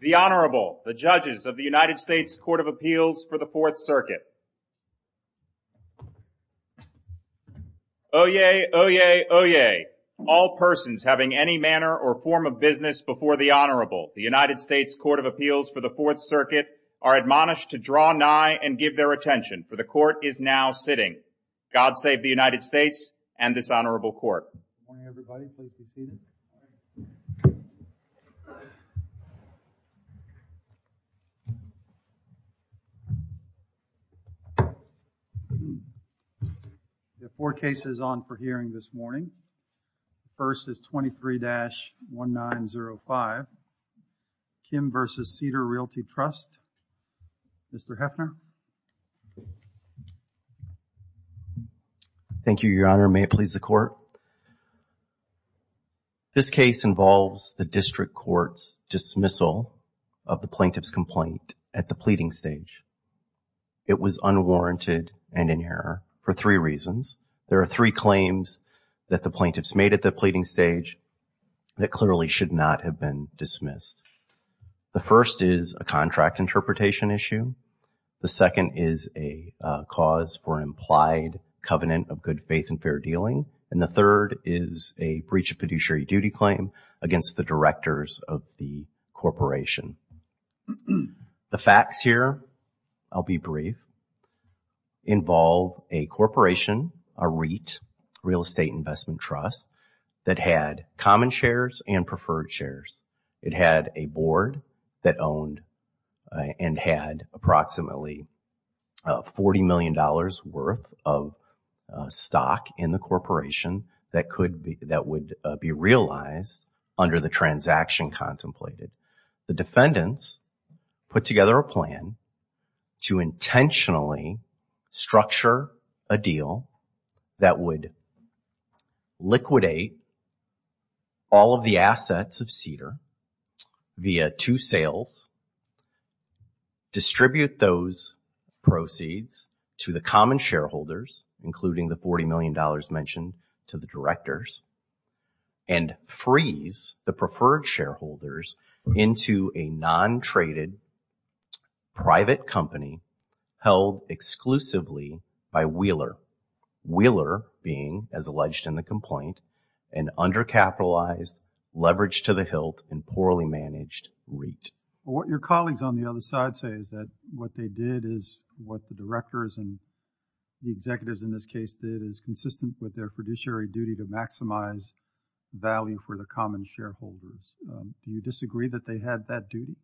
The Honorable, the judges of the United States Court of Appeals for the Fourth Circuit. Oyez, oyez, oyez, all persons having any manner or form of business before the Honorable, the United States Court of Appeals for the Fourth Circuit are admonished to draw nigh and give their attention for the court is now admonished. We have four cases on for hearing this morning. First is 23-1905, Kim v. Cedar Realty Trust. Mr. Heffner. Thank you, Your Honor. May it please the court. This case involves the district court's dismissal of the plaintiff's complaint at the pleading stage. It was unwarranted and in error for three reasons. There are three claims that the plaintiffs made at the pleading stage that clearly should not have been dismissed. The first is a contract interpretation issue. The second is a cause for implied covenant of good faith and fair dealing, and the third is a breach of fiduciary duty claim against the directors of the corporation. The facts here, I'll be brief, involve a corporation, a REIT, Real Estate Investment Trust, that had common shares and preferred shares. It had a board that had $40 million worth of stock in the corporation that could be, that would be realized under the transaction contemplated. The defendants put together a plan to intentionally structure a deal that would liquidate all of the assets of Cedar via two sales, distribute those proceeds to the common shareholders, including the $40 million mentioned to the directors, and freeze the preferred shareholders into a non-traded private company held exclusively by Wheeler. Wheeler being, as alleged in the complaint, an undercapitalized, leveraged-to-the-hilt, and poorly managed REIT. What your colleagues on the other side say is that what they did is, what the directors and the executives in this case did, is consistent with their fiduciary duty to maximize value for the common shareholders. Do you disagree that they had that duty?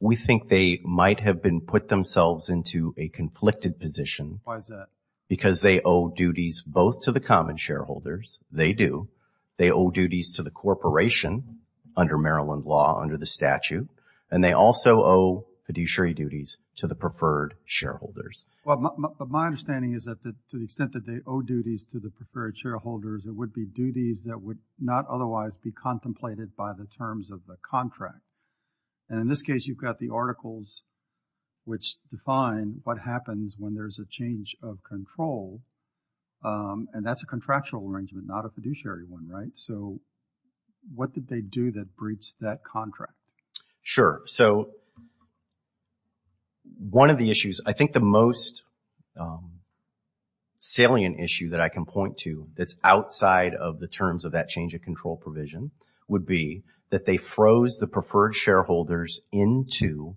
We think they might have been put themselves into a conflicted position. Why is that? Because they owe duties both to the common shareholders, they do, they owe duties to the corporation under Maryland law, under the statute, and they also owe fiduciary duties to the preferred shareholders. Well, my understanding is that to the extent that they owe duties to the preferred shareholders, it would be duties that would not otherwise be contemplated by the terms of the contract. And in this case, you've got the articles which define what happens when there's a change of control, and that's a contractual arrangement, not a fiduciary one, right? So, what did they do that breached that contract? Sure. So, one of the issues, I think the most salient issue that I can point to that's outside of the terms of that change of control provision would be that they froze the preferred shareholders into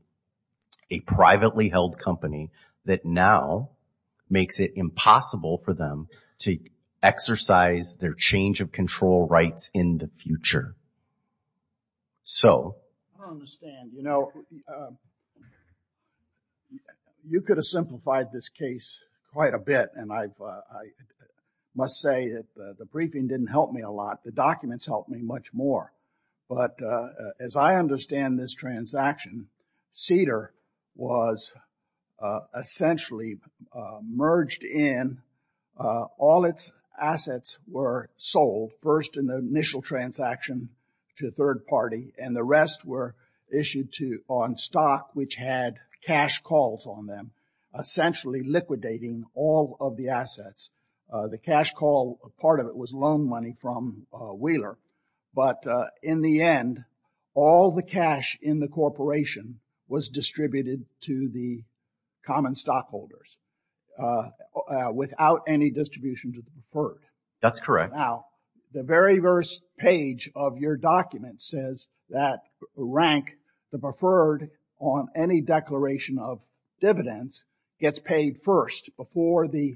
a privately held company that now makes it impossible for them to exercise their change of control rights in the future. I don't understand. You know, you could have simplified this case quite a bit, and I must say that the briefing didn't help me a lot. The documents helped me much more. But as I understand this transaction, Cedar was essentially merged in. All its assets were sold, first in the initial transaction to a third party, and the rest were issued on stock, which had cash calls on them, essentially liquidating all of the assets. The cash call, part of it was loan money from Wheeler. But in the end, all the cash in the corporation was distributed to the common stockholders without any distribution to the preferred. Now, the very first page of your document says that rank, the preferred on any declaration of dividends, gets paid first before the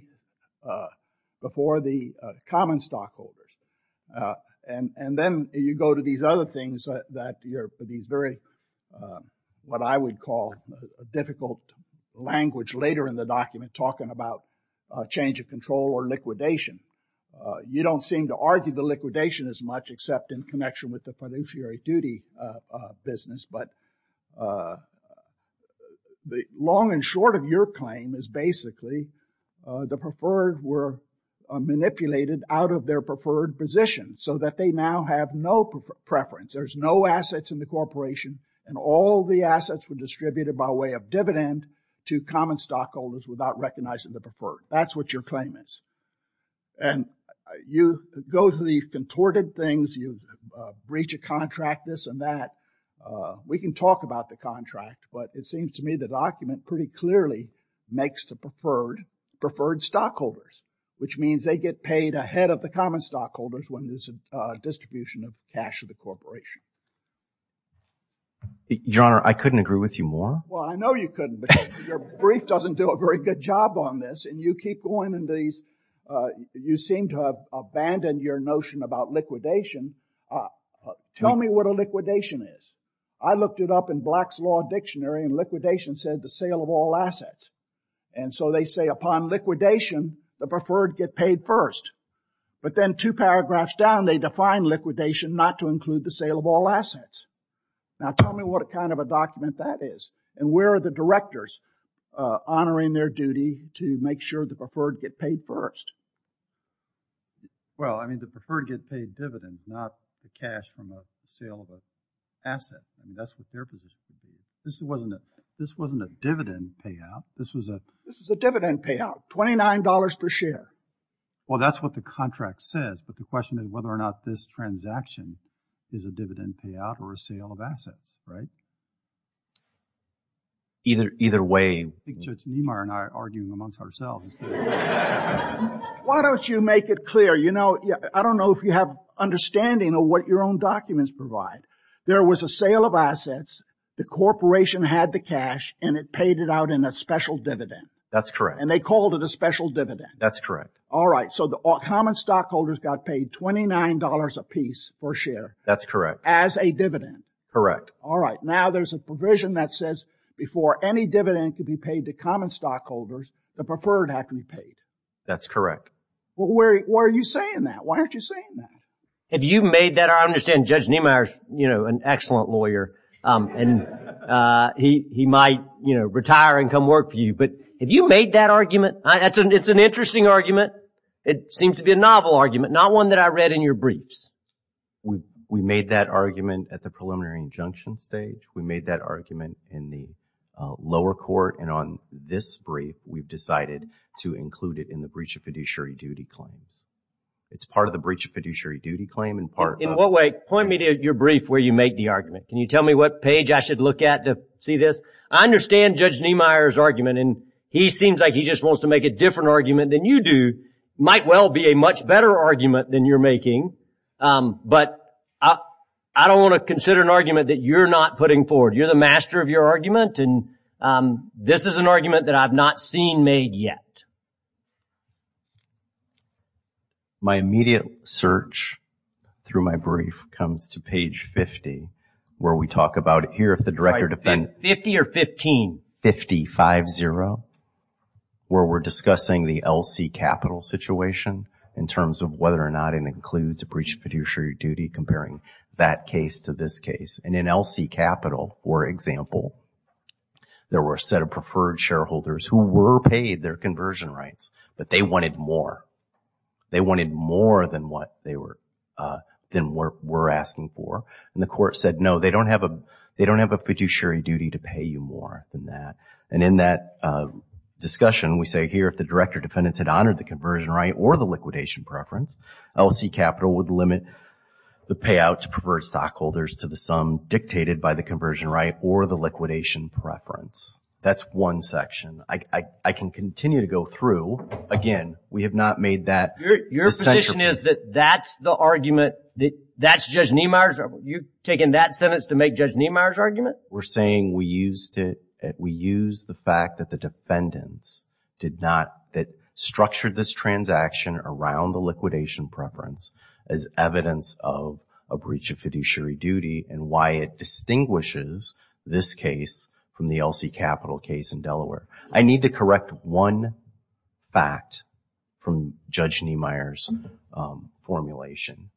common stockholders. And then you go to these other things that you're, these very, what I would call a difficult language later in the document talking about a change of control or liquidation. You don't seem to argue the liquidation as the long and short of your claim is basically the preferred were manipulated out of their preferred position so that they now have no preference. There's no assets in the corporation, and all the assets were distributed by way of dividend to common stockholders without recognizing the preferred. That's what your claim is. And you go through these contorted things, you breach a contract, this and that. We can talk about the contract, but it seems to me the document pretty clearly makes the preferred preferred stockholders, which means they get paid ahead of the common stockholders when there's a distribution of cash of the corporation. Your Honor, I couldn't agree with you more. Well, I know you couldn't, but your brief doesn't do a very good job on this. And you keep going into these, you seem to have abandoned your notion about liquidation. Tell me what liquidation is. I looked it up in Black's Law Dictionary, and liquidation said the sale of all assets. And so they say upon liquidation, the preferred get paid first. But then two paragraphs down, they define liquidation not to include the sale of all assets. Now, tell me what kind of a document that is. And where are the directors honoring their duty to make sure the preferred get paid first? Well, I mean, the preferred get paid dividends, not the cash from a sale of an asset. I mean, that's what their position would be. This wasn't a dividend payout. This was a This was a dividend payout, $29 per share. Well, that's what the contract says. But the question is whether or not this transaction is a dividend payout or a sale of assets, right? Either way I think Judge Niemeyer and I are arguing amongst ourselves. Why don't you make it clear? You know, I don't know if you have understanding of what your own documents provide. There was a sale of assets. The corporation had the cash, and it paid it out in a special dividend. That's correct. And they called it a special dividend. That's correct. All right. So the common stockholders got paid $29 a piece per share. That's correct. As a dividend. Correct. All right. Now there's a provision that says before any dividend could be paid to common stockholders, the preferred have to be paid. That's correct. Well, where are you saying that? Why aren't you saying that? Have you made that? I understand Judge Niemeyer is, you know, an excellent lawyer, and he might, you know, retire and come work for you. But have you made that argument? It's an interesting argument. It seems to be a novel argument, not one that I read in your briefs. We made that argument at the preliminary injunction stage. We made that argument in the lower court. And on this brief, we've decided to include it in the breach of fiduciary duty claims. It's part of the breach of fiduciary duty claim and part of... In what way? Point me to your brief where you make the argument. Can you tell me what page I should look at to see this? I understand Judge Niemeyer's argument, and he seems like he just wants to make a different argument than you do. It might well be a much better argument than you're making. But I don't want to consider an argument that you're not putting forward. You're the master of your argument, and this is an argument that I've not seen made yet. My immediate search through my brief comes to page 50, where we talk about here if the Director of Defense... 50 or 15? 50, 5-0, where we're discussing the LC Capital situation in terms of whether or not it includes a breach of fiduciary duty, comparing that case to this case. And in LC Capital, for example, there were a set of preferred shareholders who were paid their conversion rights, but they wanted more. They wanted more than what they were asking for. And the court said, no, they don't have a fiduciary duty to pay you more than that. And in that discussion, we say here if the Director of Defense had honored the conversion right or the liquidation preference, LC Capital would limit the payout to preferred stockholders to the sum dictated by the conversion right or the liquidation preference. That's one section. I can continue to go through. Again, we have not made that essential. The condition is that that's the argument, that's Judge Niemeyer's? You've taken that sentence to make Judge Niemeyer's argument? We're saying we used it, we used the fact that the defendants did not, that structured this transaction around the liquidation preference as evidence of a breach of fiduciary duty and why it distinguishes this case from the LC Capital case in Delaware. I need to correct one fact from Judge Niemeyer's formulation.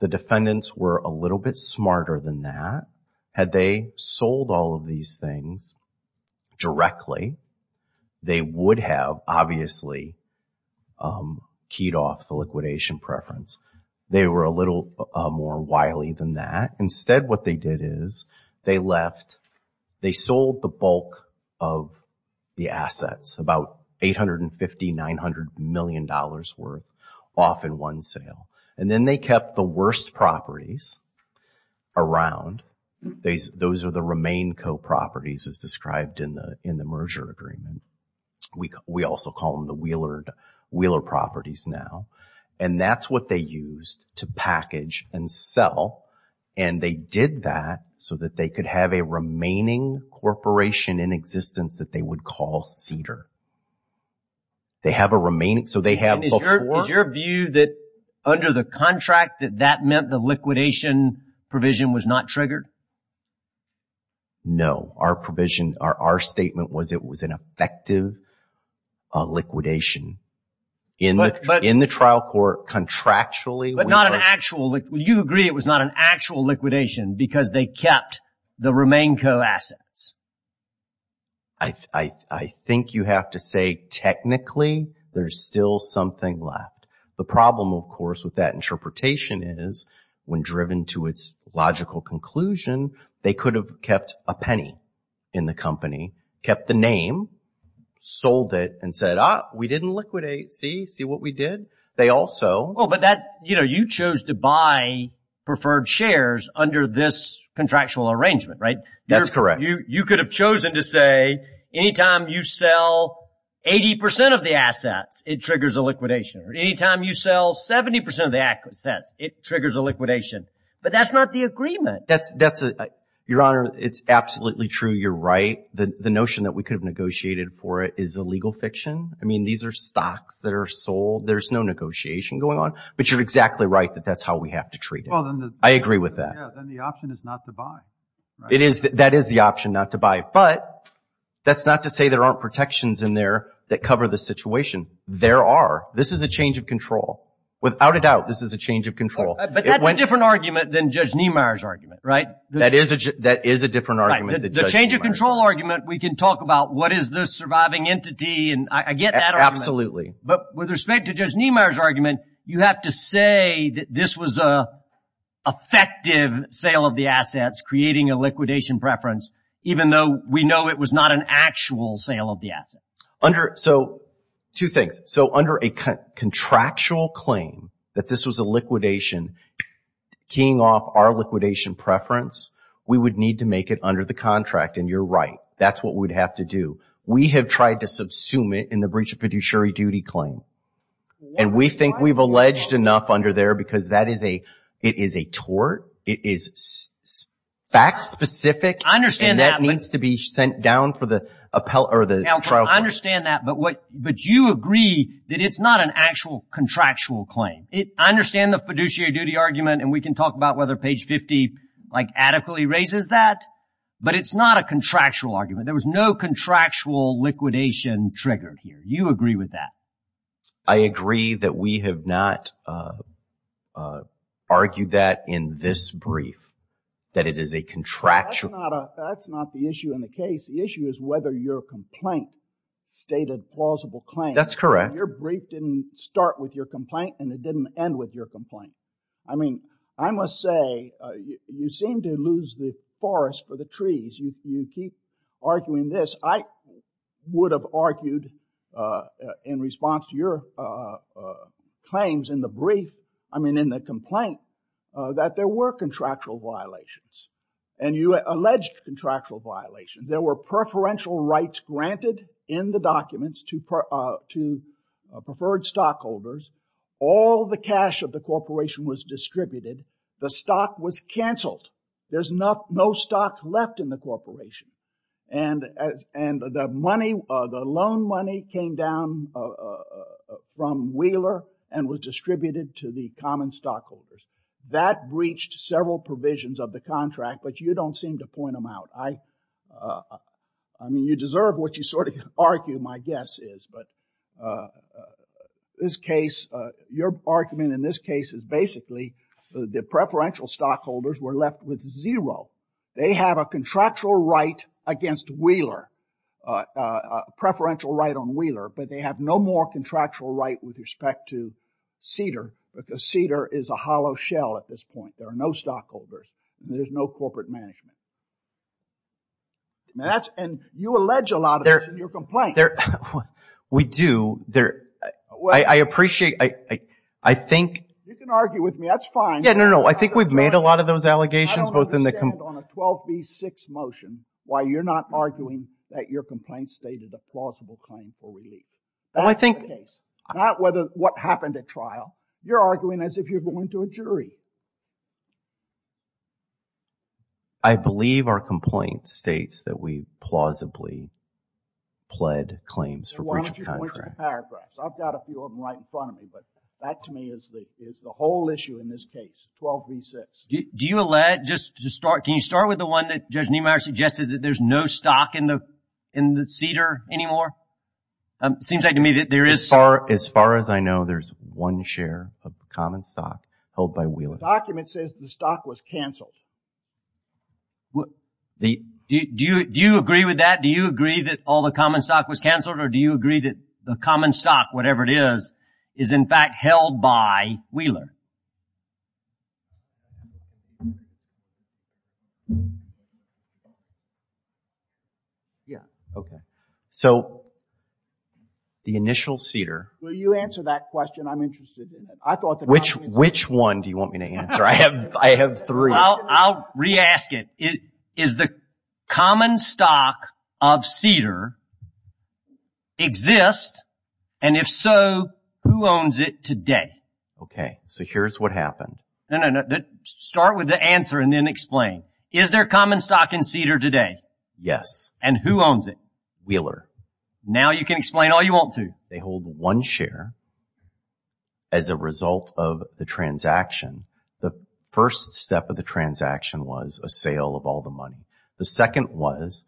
The defendants were a little bit smarter than that. Had they sold all of these things directly, they would have obviously keyed off the liquidation preference. They were a little more wily than that. Instead, what they did is they left the bulk of the assets, about $850, $900 million worth off in one sale. Then they kept the worst properties around. Those are the remain co-properties as described in the merger agreement. We also call them the Wheeler properties now. That's what they used to package and sell. They did that so that they could have a remaining corporation in existence that they would call Cedar. They have a remaining, so they have before. Is your view that under the contract that that meant the liquidation provision was not triggered? No. Our provision, our statement was it was an effective liquidation. In the trial court, contractually. You agree it was not an actual liquidation because they kept the remain co-assets? I think you have to say technically there's still something left. The problem, of course, with that interpretation is when driven to its logical conclusion, they could have kept a penny in the company, kept the name, sold it, and said, ah, we didn't liquidate. See what we did? You chose to buy preferred shares under this contractual arrangement, right? That's correct. You could have chosen to say any time you sell 80% of the assets, it triggers a liquidation. Or any time you sell 70% of the assets, it triggers a liquidation. But that's not the agreement. Your Honor, it's absolutely true. You're right. The notion that we could have negotiated for is a legal fiction. I mean, these are stocks that are sold. There's no negotiation going on. But you're exactly right that that's how we have to treat it. I agree with that. Then the option is not to buy. That is the option not to buy. But that's not to say there aren't protections in there that cover the situation. There are. This is a change of control. Without a doubt, this is a change of control. But that's a different argument than Judge Niemeyer's argument, right? That is a different argument than Judge Niemeyer's. The change of control argument, we can talk about what is the surviving entity. I get that argument. Absolutely. But with respect to Judge Niemeyer's argument, you have to say that this was an effective sale of the assets, creating a liquidation preference, even though we know it was not an actual sale of the assets. Two things. Under a contractual claim that this was a liquidation keying off our liquidation preference, we would need to make it under the contract. And you're right. That's what we'd have to do. We have tried to subsume it in the breach of fiduciary duty claim. And we think we've alleged enough under there because that is a, it is a tort. It is fact specific. I understand that. And that needs to be sent down for the appellate or the trial court. I understand that. But what, but you agree that it's not an actual contractual claim. I understand the fiduciary duty argument. And we can talk about whether page 50 like adequately raises that. But it's not a contractual argument. There was no contractual liquidation triggered here. You agree with that. I agree that we have not argued that in this brief, that it is a contractual. That's not the issue in the case. The issue is whether your complaint stated plausible claim. That's correct. But your brief didn't start with your complaint and it didn't end with your complaint. I mean, I must say you seem to lose the forest for the trees. You keep arguing this. I would have argued in response to your claims in the brief, I mean, in the complaint that there were contractual violations and you alleged contractual violations. There were preferential rights granted in the documents to preferred stockholders. All the cash of the corporation was distributed. The stock was canceled. There's no stock left in the corporation. And the money, the loan money came down from Wheeler and was distributed to the common stockholders. That breached several provisions of the contract, but you don't seem to point them out. I mean, you deserve what you sort of argue, my guess is, but this case, your argument in this case is basically the preferential stockholders were left with zero. They have a contractual right against Wheeler, preferential right on Wheeler, but they have no more contractual right with respect to Cedar because Cedar is a hollow shell at this point. There are no stockholders. There's no corporate management. And you allege a lot of this in your complaint. We do. I appreciate, I think. You can argue with me, that's fine. Yeah, no, no, no. I think we've made a lot of those allegations both in the complaint. I don't understand on a 12B6 motion why you're not arguing that your complaint stated a plausible claim for relief. That's the case. Not what happened at trial. You're arguing as if you're going to a jury. I believe our complaint states that we plausibly pled claims for breach of contract. I've got a few of them right in front of me, but that to me is the whole issue in this case, 12B6. Do you allege, just to start, can you start with the one that Judge Niemeyer suggested that there's no stock in the Cedar anymore? Seems like to me that there is. As far as I know, there's one share of common stock held by Wheeler. The document says the stock was cancelled. Do you agree with that? Do you agree that all the common stock was cancelled, or do you agree that the common stock, whatever it is, is, in fact, held by Wheeler? Yeah. Okay. So, the initial Cedar. Will you answer that question? I'm interested in it. Which one do you want me to answer? I have three. I'll re-ask it. Is the common stock of Cedar exist, and if so, who owns it today? Okay. So, here's what happened. No, no, no. Start with the answer and then explain. Is there common stock in Cedar today? Yes. And who owns it? Wheeler. Now you can explain all you want to. They hold one share as a result of the transaction. The first step of the transaction was a sale of all the money. The second was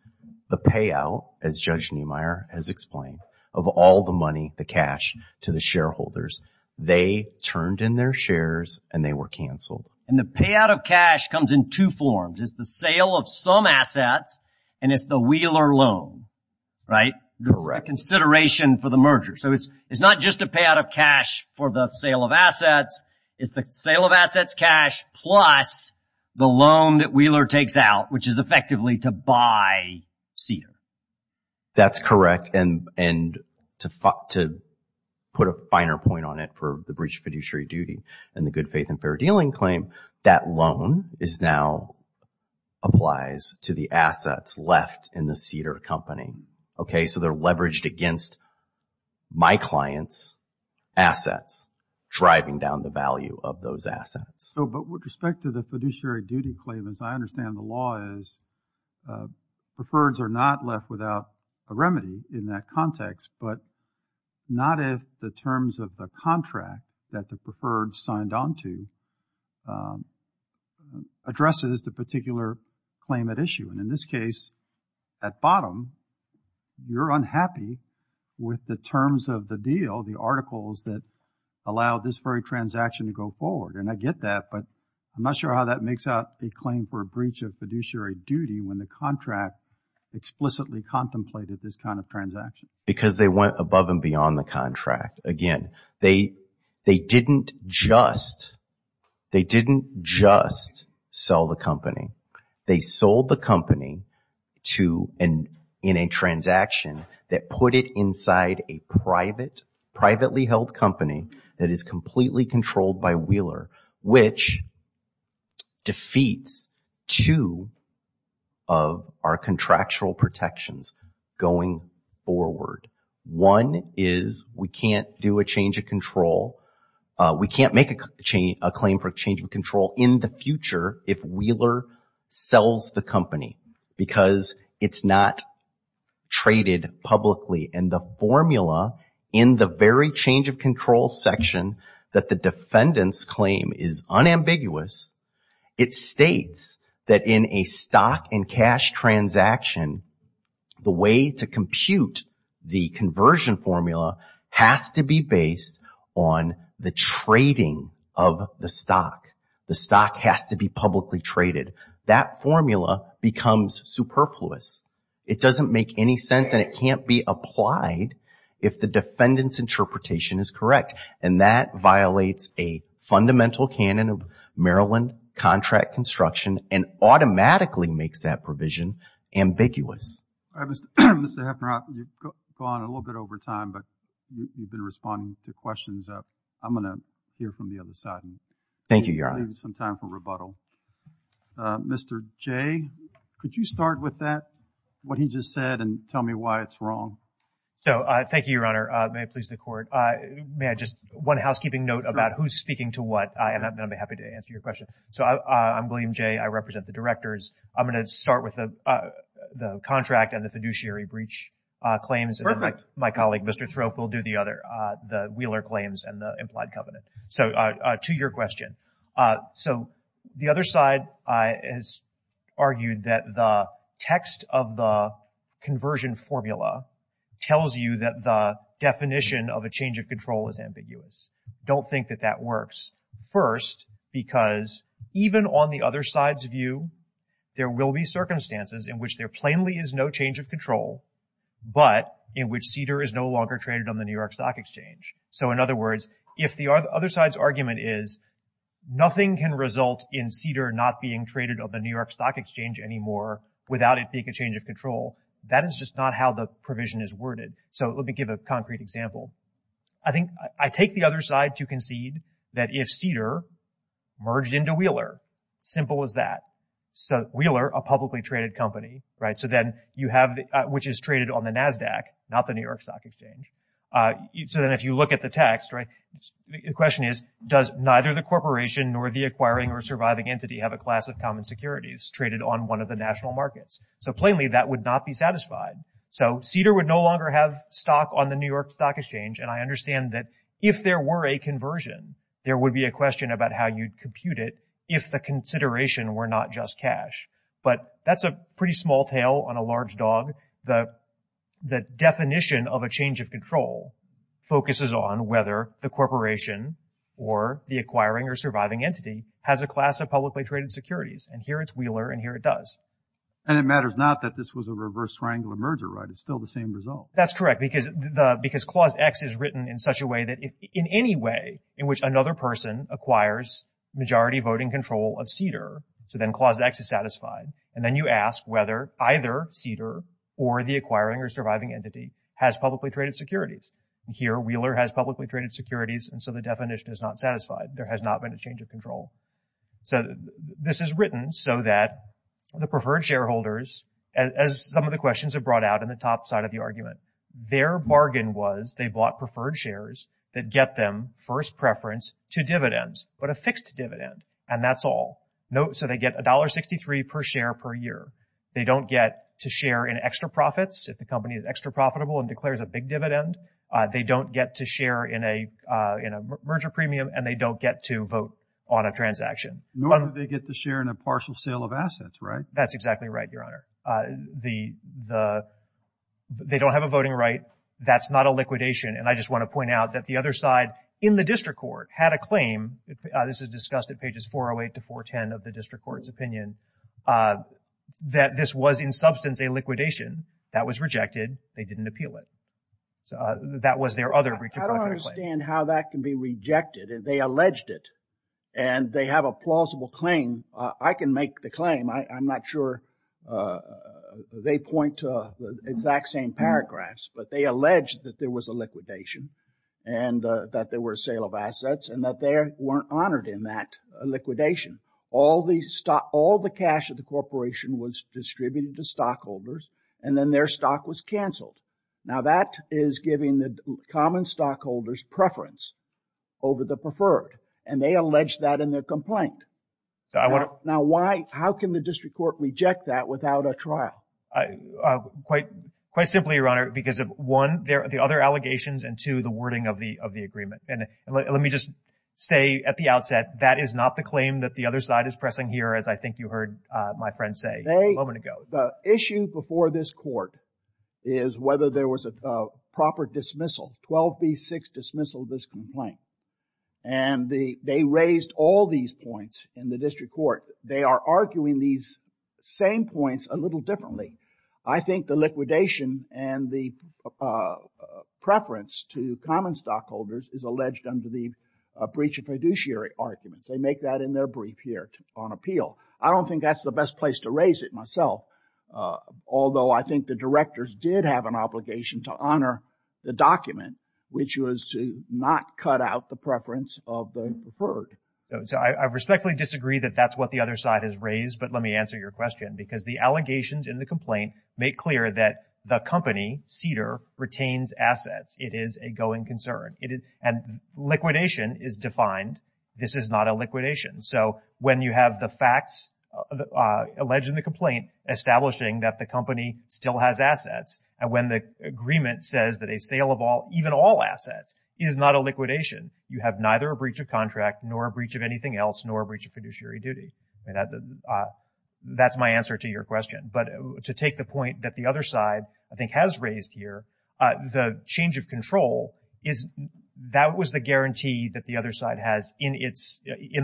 the payout, as Judge Niemeyer has explained, of all the money, the cash, to the shareholders. They turned in their shares, and they were cancelled. And the payout of cash comes in two forms. It's the sale of some assets, and it's the Wheeler loan, right? Correct. A consideration for the merger. So, it's plus the loan that Wheeler takes out, which is effectively to buy Cedar. That's correct. And to put a finer point on it for the breach of fiduciary duty and the good faith and fair dealing claim, that loan is now applies to the assets left in the Cedar company. Okay? So, they're leveraged against my client's assets, driving down the value of those assets. So, but with respect to the fiduciary duty claim, as I understand the law is, preferreds are not left without a remedy in that context, but not if the terms of the contract that the preferred signed on to addresses the particular claim at issue. And in this case, at bottom, you're unhappy with the terms of the deal, the articles that allow this very transaction to go forward. And I get that, but I'm not sure how that makes up the claim for a breach of fiduciary duty when the contract explicitly contemplated this kind of transaction. Because they went above and beyond the contract. Again, they didn't just sell the company. They sold the company in a transaction that put it inside a private, privately held company that is completely controlled by Wheeler, which defeats two of our contractual protections going forward. One is we can't do a change of control, we can't make a claim for a change of control in the future if Wheeler sells the company because it's not traded publicly. And the formula in the very change of control section that the defendants claim is unambiguous, it states that in a stock and cash transaction, the way to compute the conversion formula has to be based on the trading of the stock. The stock has to be publicly traded. That formula becomes superfluous. It doesn't make any sense and it can't be applied if the defendant's interpretation is correct. And that violates a fundamental canon of Maryland contract construction and automatically makes that provision ambiguous. Mr. Heffner, you've gone a little bit over time, but you've been responding to questions. I'm going to hear from the other side. Thank you, Your Honor. Mr. Jay, could you start with that, what he just said, and tell me why it's wrong? So, thank you, Your Honor. May it please the Court. May I just, one housekeeping note about who's speaking to what, and I'm happy to answer your question. So, I'm William Jay, I represent the directors. I'm going to start with the contract and the fiduciary breach claims. Perfect. My colleague, Mr. Thrope, will do the other, the Wheeler claims and the implied covenant. So, to your question. So, the other side has argued that the text of the conversion formula tells you that the definition of a change of control is ambiguous. Don't think that that works. First, because even on the other side's view, there will be circumstances in which there plainly is no change of control, but in which Cedar is no longer traded on the New York Stock Exchange. So, in other words, if the other side's argument is nothing can result in Cedar not being traded on the New York Stock Exchange anymore without it being a change of control, that is just not how the provision is worded. So, let me give a concrete example. I think, I take the other side to concede that if Cedar merged into Wheeler, simple as that. So, Wheeler, a publicly traded company, right, so then you have, which is traded on the NASDAQ, not the New York Stock Exchange. So, then if you look at the text, right, the question is, does neither the corporation nor the acquiring or surviving entity have a class of common securities traded on one of the national markets? So, plainly, that would not be satisfied. So, Cedar would no longer have stock on the New York Stock Exchange, and I understand that if there were a conversion, there would be a question about how you'd compute it if the consideration were not just cash. But that's a pretty small tail on a The definition of a change of control focuses on whether the corporation or the acquiring or surviving entity has a class of publicly traded securities, and here it's Wheeler and here it does. And it matters not that this was a reverse triangular merger, right? It's still the same result. That's correct, because the, because Clause X is written in such a way that if, in any way in which another person acquires majority voting control of Cedar, so then Clause X is satisfied, and then you ask whether either Cedar or the acquiring or surviving entity has publicly traded securities. And here, Wheeler has publicly traded securities, and so the definition is not satisfied. There has not been a change of control. So, this is written so that the preferred shareholders, as some of the questions have brought out in the top side of the argument, their bargain was they bought preferred shares that get them first preference to dividends, but a fixed dividend, and that's all. No, so they get $1.63 per share per year. They don't get to share in extra profits if the company is extra profitable and declares a big dividend. They don't get to share in a, in a merger premium, and they don't get to vote on a transaction. Nor do they get to share in a partial sale of assets, right? That's exactly right, Your Honor. The, the, they don't have a voting right. That's not a liquidation, and I just want to point out that the other side in the district court had a claim, this is discussed at pages 408 to 410 of the district court's opinion, that this was in substance a liquidation. That was rejected. They didn't appeal it. So, that was their other breach of contract claim. I don't understand how that can be rejected, and they alleged it, and they have a plausible claim. I can make the claim. I, I'm not sure they point to the exact same paragraphs, but they alleged that there was a liquidation, and that there were a sale of assets, and that they weren't honored in that liquidation. All the stock, all the cash of the corporation was distributed to stockholders, and then their stock was canceled. Now, that is giving the common stockholders preference over the preferred, and they allege that in their complaint. So, I want to. Now, why, how can the district court reject that without a trial? Quite, quite simply, Your Honor, because of one, the other allegations, and two, the wording of the, of the agreement. And let, let me just say at the outset, that is not the claim that the other side is pressing here, as I think you heard my friend say a moment ago. They, the issue before this court is whether there was a proper dismissal, 12B6 dismissal of this complaint. And the, they raised all these points in the district court. They are arguing these same points a little differently. I think the liquidation and the preference to common stockholders is alleged under the breach of fiduciary arguments. They make that in their brief here on appeal. I don't think that's the best place to raise it myself, although I think the directors did have an obligation to honor the document, which was to not cut out the preference of the preferred. So I respectfully disagree that that's what the other side has raised, but let me answer your question. Because the allegations in the complaint make clear that the company, Cedar, retains assets. It is a going concern. And liquidation is defined. This is not a liquidation. So when you have the facts alleged in the complaint establishing that the company still has assets, and when the agreement says that a sale of all, even all assets, is not a liquidation, you have neither a breach of contract nor a breach of anything else nor a breach of fiduciary duty. That's my answer to your question. But to take the point that the other side, I think, has raised here, the change of control is that was the guarantee that the other side has in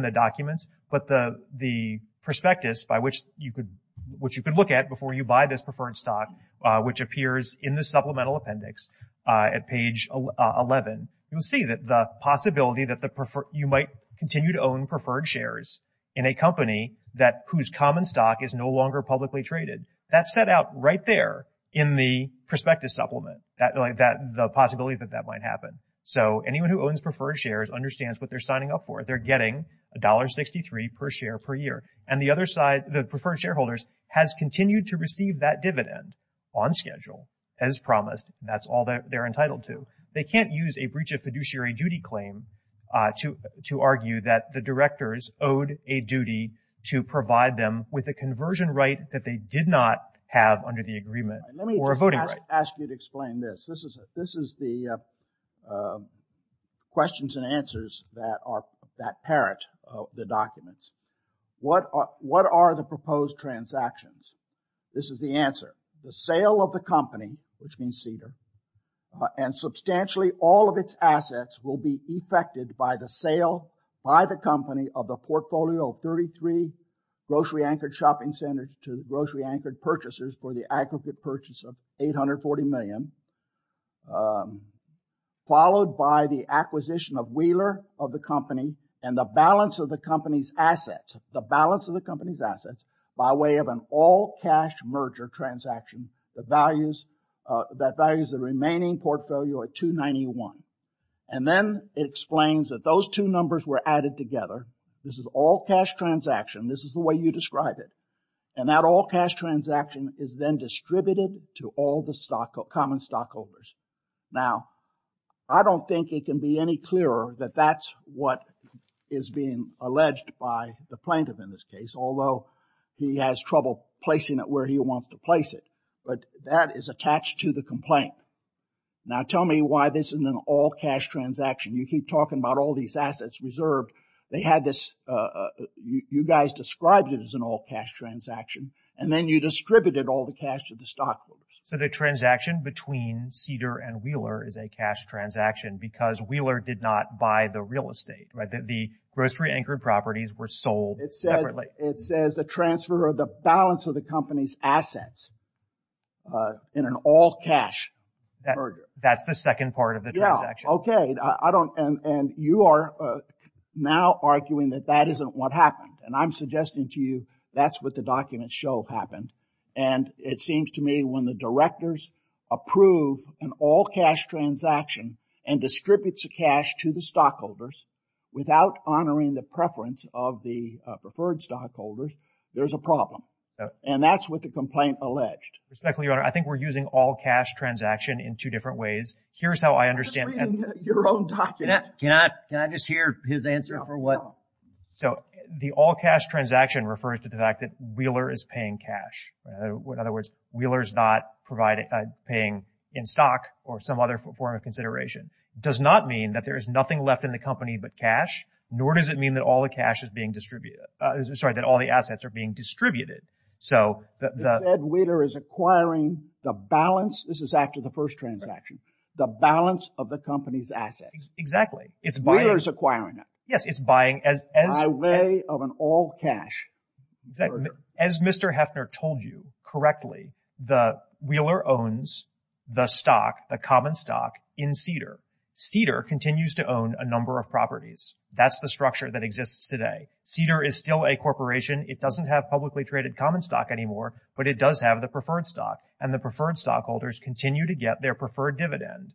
the document. But the prospectus by which you could look at before you buy this preferred stock, which you might continue to own preferred shares in a company whose common stock is no longer publicly traded, that's set out right there in the prospectus supplement, the possibility that that might happen. So anyone who owns preferred shares understands what they're signing up for. They're getting $1.63 per share per year. And the other side, the preferred shareholders, has continued to receive that dividend on schedule as promised. That's all they're entitled to. So they can't use a breach of fiduciary duty claim to argue that the directors owed a duty to provide them with a conversion right that they did not have under the agreement or a voting right. Let me ask you to explain this. This is the questions and answers that parrot the documents. What are the proposed transactions? This is the answer. The sale of the company, which means Cedar, and substantially all of its assets will be effected by the sale by the company of the portfolio of 33 grocery-anchored shopping centers to grocery-anchored purchasers for the aggregate purchase of $840 million, followed by the acquisition of Wheeler of the company and the balance of the company's assets, the balance transaction that values the remaining portfolio at 291. And then it explains that those two numbers were added together. This is all-cash transaction. This is the way you describe it. And that all-cash transaction is then distributed to all the common stockholders. Now, I don't think it can be any clearer that that's what is being alleged by the plaintiff in this case, although he has trouble placing it where he wants to place it. But that is attached to the complaint. Now, tell me why this is an all-cash transaction. You keep talking about all these assets reserved. They had this, you guys described it as an all-cash transaction, and then you distributed all the cash to the stockholders. So the transaction between Cedar and Wheeler is a cash transaction because Wheeler did not buy the real estate, right? The grocery-anchored properties were sold separately. It says the transfer of the balance of the company's assets in an all-cash merger. That's the second part of the transaction. Yeah, okay. And you are now arguing that that isn't what happened. And I'm suggesting to you that's what the documents show happened. And it seems to me when the directors approve an all-cash transaction and distribute the without honoring the preference of the preferred stockholders, there's a problem. And that's what the complaint alleged. Respectfully, Your Honor, I think we're using all-cash transaction in two different ways. Here's how I understand it. I'm just reading your own documents. Can I just hear his answer for what? So the all-cash transaction refers to the fact that Wheeler is paying cash. In other words, Wheeler is not paying in stock or some other form of consideration. It does not mean that there is nothing left in the company but cash, nor does it mean that all the assets are being distributed. It said Wheeler is acquiring the balance. This is after the first transaction. The balance of the company's assets. Exactly. Wheeler is acquiring it. Yes, it's buying. By way of an all-cash merger. As Mr. Heffner told you correctly, Wheeler owns the stock, the common stock, in Cedar. Cedar continues to own a number of properties. That's the structure that exists today. Cedar is still a corporation. It doesn't have publicly traded common stock anymore, but it does have the preferred stock, and the preferred stockholders continue to get their preferred dividend.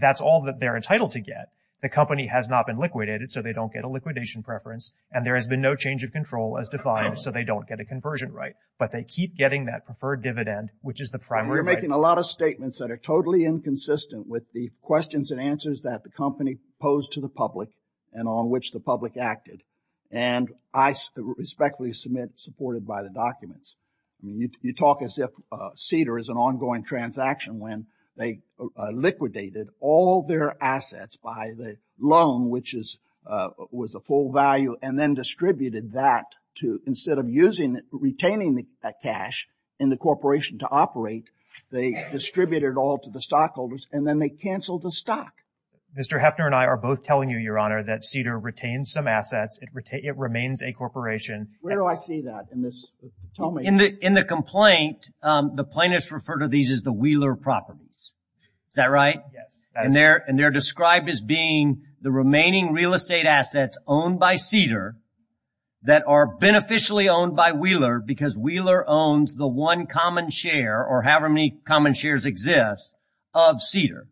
That's all that they're entitled to get. The company has not been liquidated, so they don't get a liquidation preference, and there has been no change of control as defined, so they don't get a conversion right. But they keep getting that preferred dividend, which is the primary right. You're making a lot of statements that are totally inconsistent with the questions and answers that the company posed to the public and on which the public acted, and I respectfully submit supported by the documents. You talk as if Cedar is an ongoing transaction when they liquidated all their assets by the loan, which was a full value, and then distributed that. Instead of retaining that cash in the corporation to operate, they distributed it all to the stockholders, and then they canceled the stock. Mr. Heffner and I are both telling you, Your Honor, that Cedar retains some assets. It remains a corporation. Where do I see that in this? In the complaint, the plaintiffs refer to these as the Wheeler properties. Is that right? Yes. And they're described as being the remaining real estate assets owned by Cedar that are beneficially owned by Wheeler because Wheeler owns the one common share or however many common shares exist of Cedar.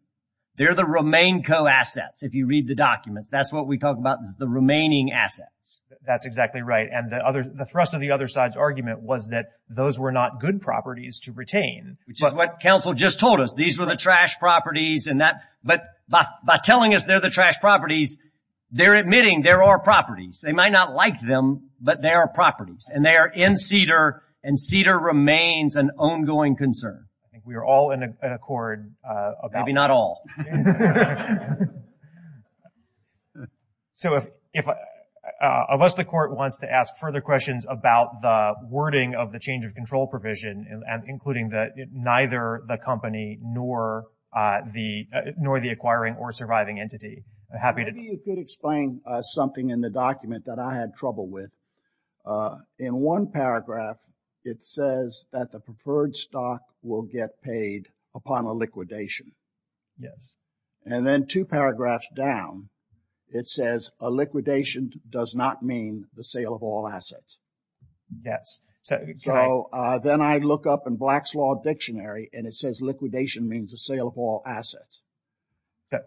They're the remain co-assets, if you read the documents. That's what we talk about is the remaining assets. That's exactly right, and the thrust of the other side's argument was that those were not good properties to retain. Which is what counsel just told us. These were the trash properties, but by telling us they're the trash properties, they're admitting there are properties. They might not like them, but they are properties, and they are in Cedar, and Cedar remains an ongoing concern. I think we are all in accord. Maybe not all. So unless the court wants to ask further questions about the wording of the change of control provision, including neither the company nor the acquiring or surviving entity. Maybe you could explain something in the document that I had trouble with. In one paragraph, it says that the preferred stock will get paid upon a liquidation. Yes. And then two paragraphs down, it says a liquidation does not mean the sale of all assets. Yes. So then I look up in Black's Law Dictionary, and it says liquidation means the sale of all assets.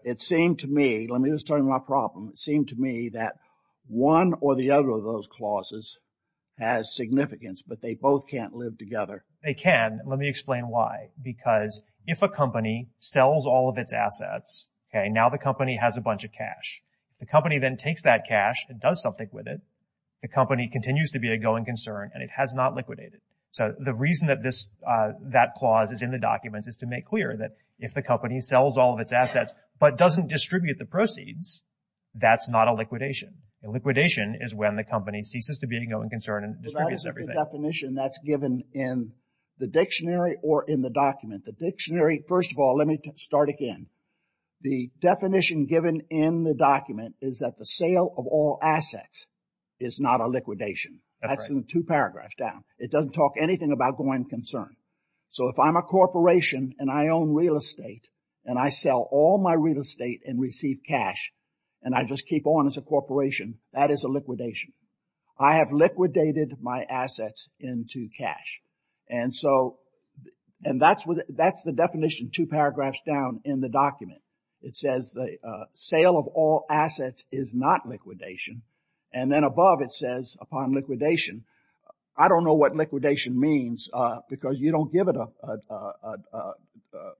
It seemed to me, let me just turn to my problem. It seemed to me that one or the other of those clauses has significance, but they both can't live together. They can. Let me explain why. Because if a company sells all of its assets, now the company has a bunch of cash. The company then takes that cash and does something with it. The company continues to be a going concern, and it has not liquidated. So the reason that that clause is in the document is to make clear that if the company sells all of its assets but doesn't distribute the proceeds, that's not a liquidation. A liquidation is when the company ceases to be a going concern and distributes everything. But that isn't the definition that's given in the dictionary or in the document. The dictionary, first of all, let me start again. The definition given in the document is that the sale of all assets is not a liquidation. That's in the two paragraphs down. It doesn't talk anything about going concern. So if I'm a corporation and I own real estate and I sell all my real estate and receive cash and I just keep on as a corporation, that is a liquidation. I have liquidated my assets into cash. And so that's the definition two paragraphs down in the document. It says the sale of all assets is not liquidation. And then above it says upon liquidation. I don't know what liquidation means because you don't give it a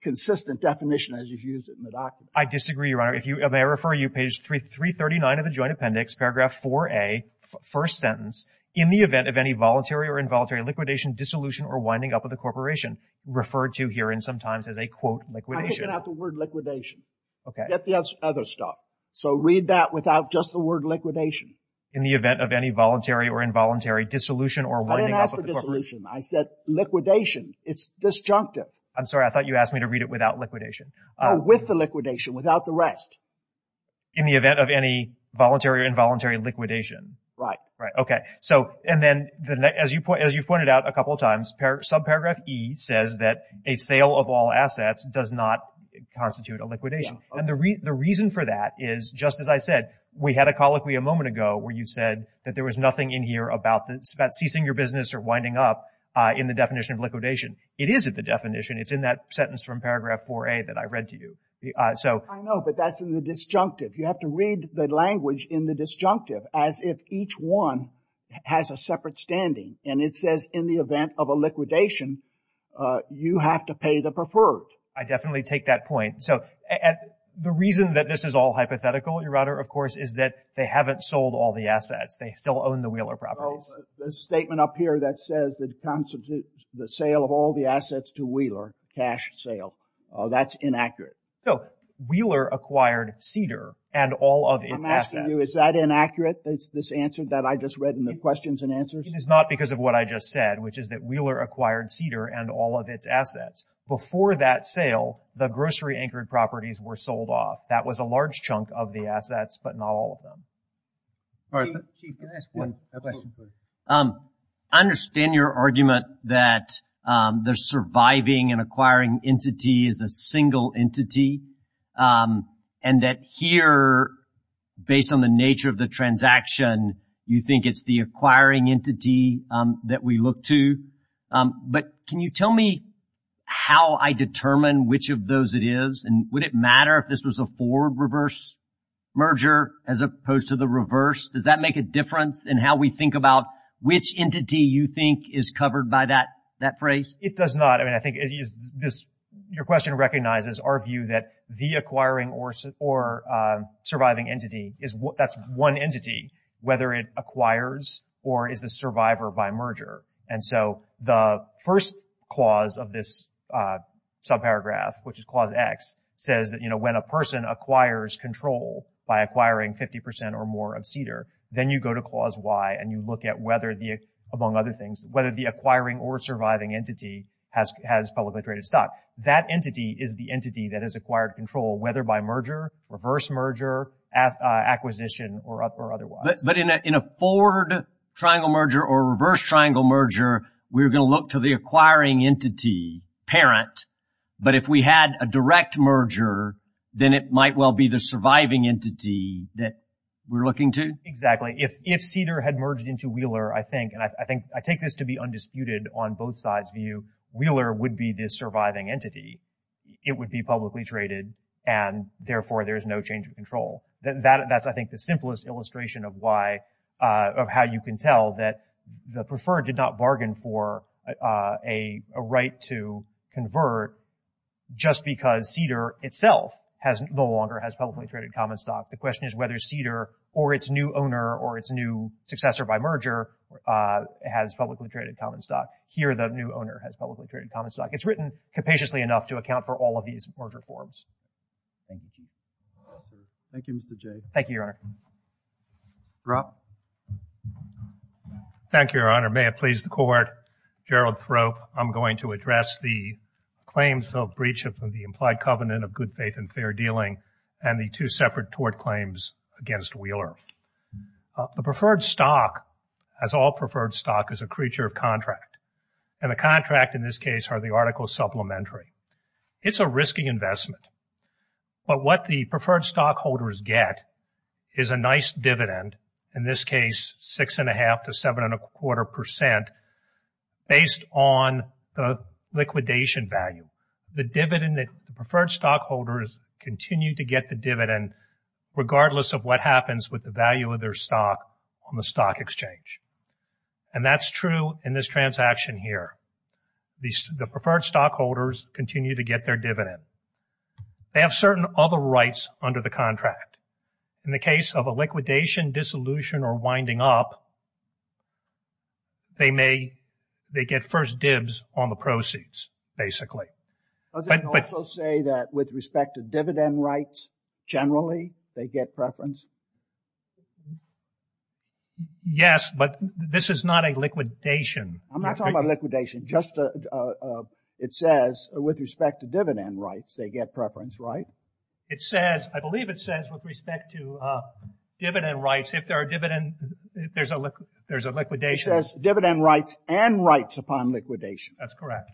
consistent definition as you've used it in the document. I disagree, Your Honor. If I refer you to page 339 of the joint appendix, paragraph 4A, first sentence, in the event of any voluntary or involuntary liquidation, dissolution, or winding up of the corporation, referred to here and sometimes as a, quote, liquidation. I'm looking at the word liquidation. Okay. Get the other stuff. So read that without just the word liquidation. In the event of any voluntary or involuntary dissolution or winding up of the corporation. I didn't ask for dissolution. I said liquidation. It's disjunctive. I'm sorry. I thought you asked me to read it without liquidation. Oh, with the liquidation, without the rest. In the event of any voluntary or involuntary liquidation. Right. Right. Okay. So and then as you've pointed out a couple of times, subparagraph E says that a sale of all assets does not constitute a liquidation. And the reason for that is, just as I said, we had a colloquy a moment ago where you said that there was nothing in here about ceasing your business or winding up in the definition of liquidation. It isn't the definition. It's in that sentence from paragraph 4A that I read to you. I know, but that's in the disjunctive. You have to read the language in the disjunctive as if each one has a separate standing. And it says in the event of a liquidation, you have to pay the preferred. I definitely take that point. So the reason that this is all hypothetical, Your Honor, of course, is that they haven't sold all the assets. They still own the Wheeler properties. The statement up here that says that the sale of all the assets to Wheeler, cash sale, that's inaccurate. So Wheeler acquired Cedar and all of its assets. I'm asking you, is that inaccurate, this answer that I just read in the questions and answers? It is not because of what I just said, which is that Wheeler acquired Cedar and all of its assets. Before that sale, the grocery anchored properties were sold off. That was a large chunk of the assets, but not all of them. Chief, can I ask you a question, please? I understand your argument that the surviving and acquiring entity is a single entity and that here, based on the nature of the transaction, you think it's the acquiring entity that we look to. But can you tell me how I determine which of those it is? And would it matter if this was a forward-reverse merger as opposed to the reverse? Does that make a difference in how we think about which entity you think is covered by that phrase? It does not. Your question recognizes our view that the acquiring or surviving entity, that's one entity, whether it acquires or is the survivor by merger. And so the first clause of this subparagraph, which is Clause X, says that when a person acquires control by acquiring 50% or more of Cedar, then you go to Clause Y and you look at whether, among other things, whether the acquiring or surviving entity has publicly traded stock. That entity is the entity that has acquired control, whether by merger, reverse merger, acquisition, or otherwise. But in a forward triangle merger or reverse triangle merger, we're going to look to the acquiring entity parent. But if we had a direct merger, then it might well be the surviving entity that we're looking to? Exactly. If Cedar had merged into Wheeler, I think, and I take this to be undisputed on both sides' view, Wheeler would be the surviving entity. It would be publicly traded and, therefore, there's no change of control. That's, I think, the simplest illustration of why, of how you can tell that the preferred did not bargain for a right to convert just because Cedar itself no longer has publicly traded common stock. The question is whether Cedar or its new owner or its new successor by merger has publicly traded common stock. Here, the new owner has publicly traded common stock. It's written capaciously enough to account for all of these merger forms. Thank you, Chief. Thank you, Mr. Jay. Thank you, Your Honor. Drop. Thank you, Your Honor. May it please the Court. I'm going to address the claims of breach of the implied covenant of good faith and fair dealing and the two separate tort claims against Wheeler. The preferred stock, as all preferred stock, is a creature of contract, and the contract, in this case, are the articles supplementary. It's a risky investment, but what the preferred stockholders get is a nice dividend, in this case, 6.5% to 7.25% based on the liquidation value. The preferred stockholders continue to get the dividend regardless of what happens with the value of their stock on the stock exchange, and that's true in this transaction here. The preferred stockholders continue to get their dividend. They have certain other rights under the contract. In the case of a liquidation, dissolution, or winding up, they get first dibs on the proceeds, basically. Does it also say that with respect to dividend rights, generally, they get preference? Yes, but this is not a liquidation. I'm not talking about liquidation. It says with respect to dividend rights, they get preference, right? It says, I believe it says, with respect to dividend rights, if there are dividend, there's a liquidation. It says dividend rights and rights upon liquidation. That's correct.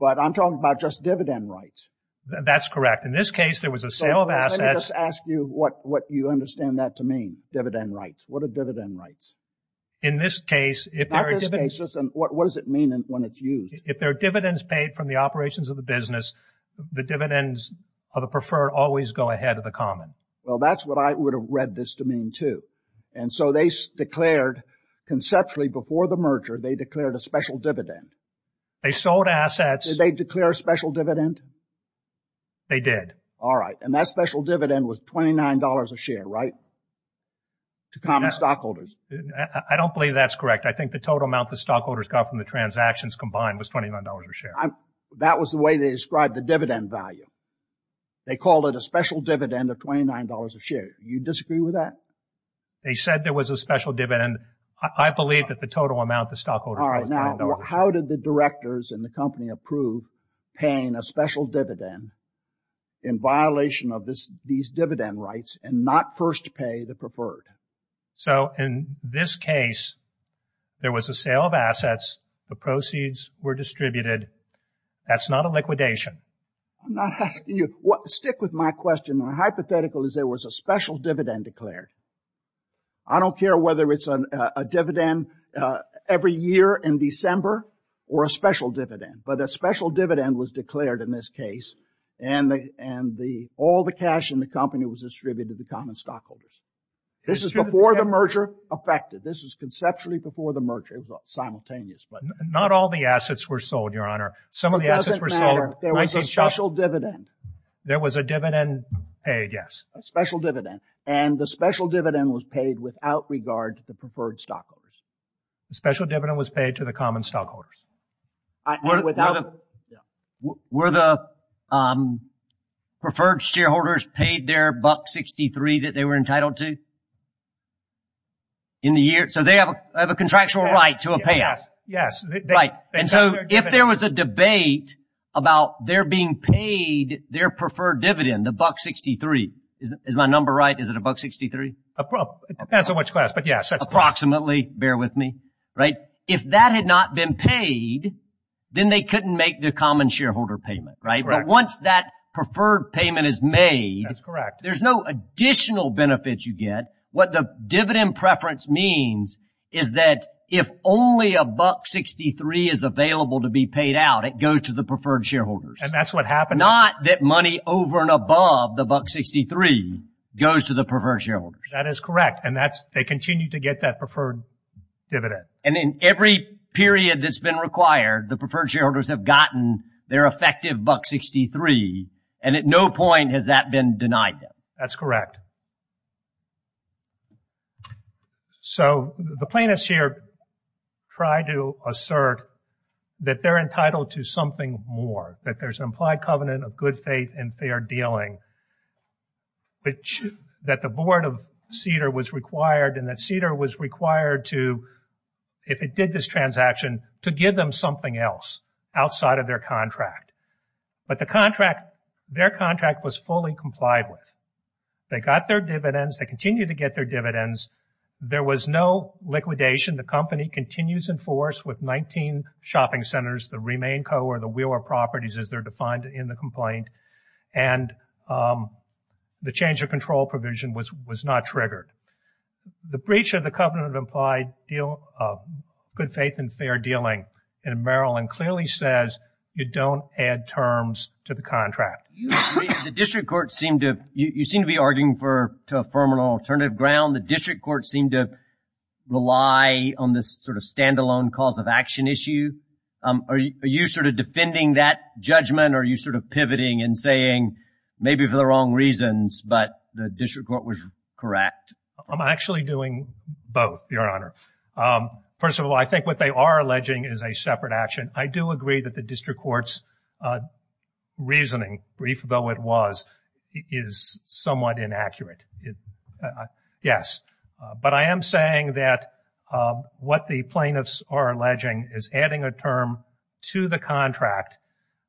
But I'm talking about just dividend rights. That's correct. In this case, there was a sale of assets. Let me just ask you what you understand that to mean, dividend rights. What are dividend rights? In this case, if there are dividends... What does it mean when it's used? If there are dividends paid from the operations of the business, the dividends of the preferred always go ahead of the common. Well, that's what I would have read this to mean, too. And so they declared, conceptually, before the merger, they declared a special dividend. They sold assets. Did they declare a special dividend? They did. All right. And that special dividend was $29 a share, right, to common stockholders? I don't believe that's correct. I think the total amount the stockholders got from the transactions combined was $29 a share. That was the way they described the dividend value. They called it a special dividend of $29 a share. You disagree with that? They said there was a special dividend. I believe that the total amount the stockholders got was $29. All right. Now, how did the directors in the company approve paying a special dividend in violation of these dividend rights and not first pay the preferred? So, in this case, there was a sale of assets. The proceeds were distributed. That's not a liquidation. I'm not asking you. Stick with my question. My hypothetical is there was a special dividend declared. I don't care whether it's a dividend every year in December or a special dividend, but a special dividend was declared in this case and all the cash in the company was distributed to the common stockholders. This is before the merger affected. This is conceptually before the merger. It was simultaneous. Not all the assets were sold, Your Honor. Some of the assets were sold. But there was a special dividend. There was a dividend paid, yes. A special dividend. And the special dividend was paid without regard to the preferred stockholders. The special dividend was paid to the common stockholders. Were the preferred shareholders paid their $1.63 that they were entitled to in the year? So, they have a contractual right to a payout. Yes. Right. And so, if there was a debate about their being paid their preferred dividend, the $1.63, is my number right? Is it $1.63? It depends on which class, but yes. Approximately, bear with me. If that had not been paid, then they couldn't make the common shareholder payment. But once that preferred payment is made, there's no additional benefits you get. What the dividend preference means is that if only $1.63 is available to be paid out, it goes to the preferred shareholders. And that's what happened. Not that money over and above the $1.63 goes to the preferred shareholders. That is correct. And they continue to get that preferred dividend. And in every period that's been required, the preferred shareholders have gotten their effective $1.63. And at no point has that been denied them. That's correct. So, the plaintiffs here try to assert that they're entitled to something more, that there's an implied covenant of good faith and fair dealing, that the board of Cedar was required and that Cedar was required to, if it did this transaction, to give them something else outside of their contract. But their contract was fully complied with. They got their dividends. They continue to get their dividends. There was no liquidation. The company continues in force with 19 shopping centers that remain co- or the wheeler properties as they're defined in the complaint. And the change of control provision was not triggered. The breach of the covenant of good faith and fair dealing in Maryland clearly says you don't add terms to the contract. The district court seemed to be arguing to affirm an alternative ground. The district court seemed to rely on this sort of stand-alone cause of action issue. Are you sort of defending that judgment? Are you sort of pivoting and saying maybe for the wrong reasons, but the district court was correct? I'm actually doing both, Your Honor. First of all, I think what they are alleging is a separate action. I do agree that the district court's reasoning, brief though it was, is somewhat inaccurate. Yes. But I am saying that what the plaintiffs are alleging is adding a term to the contract,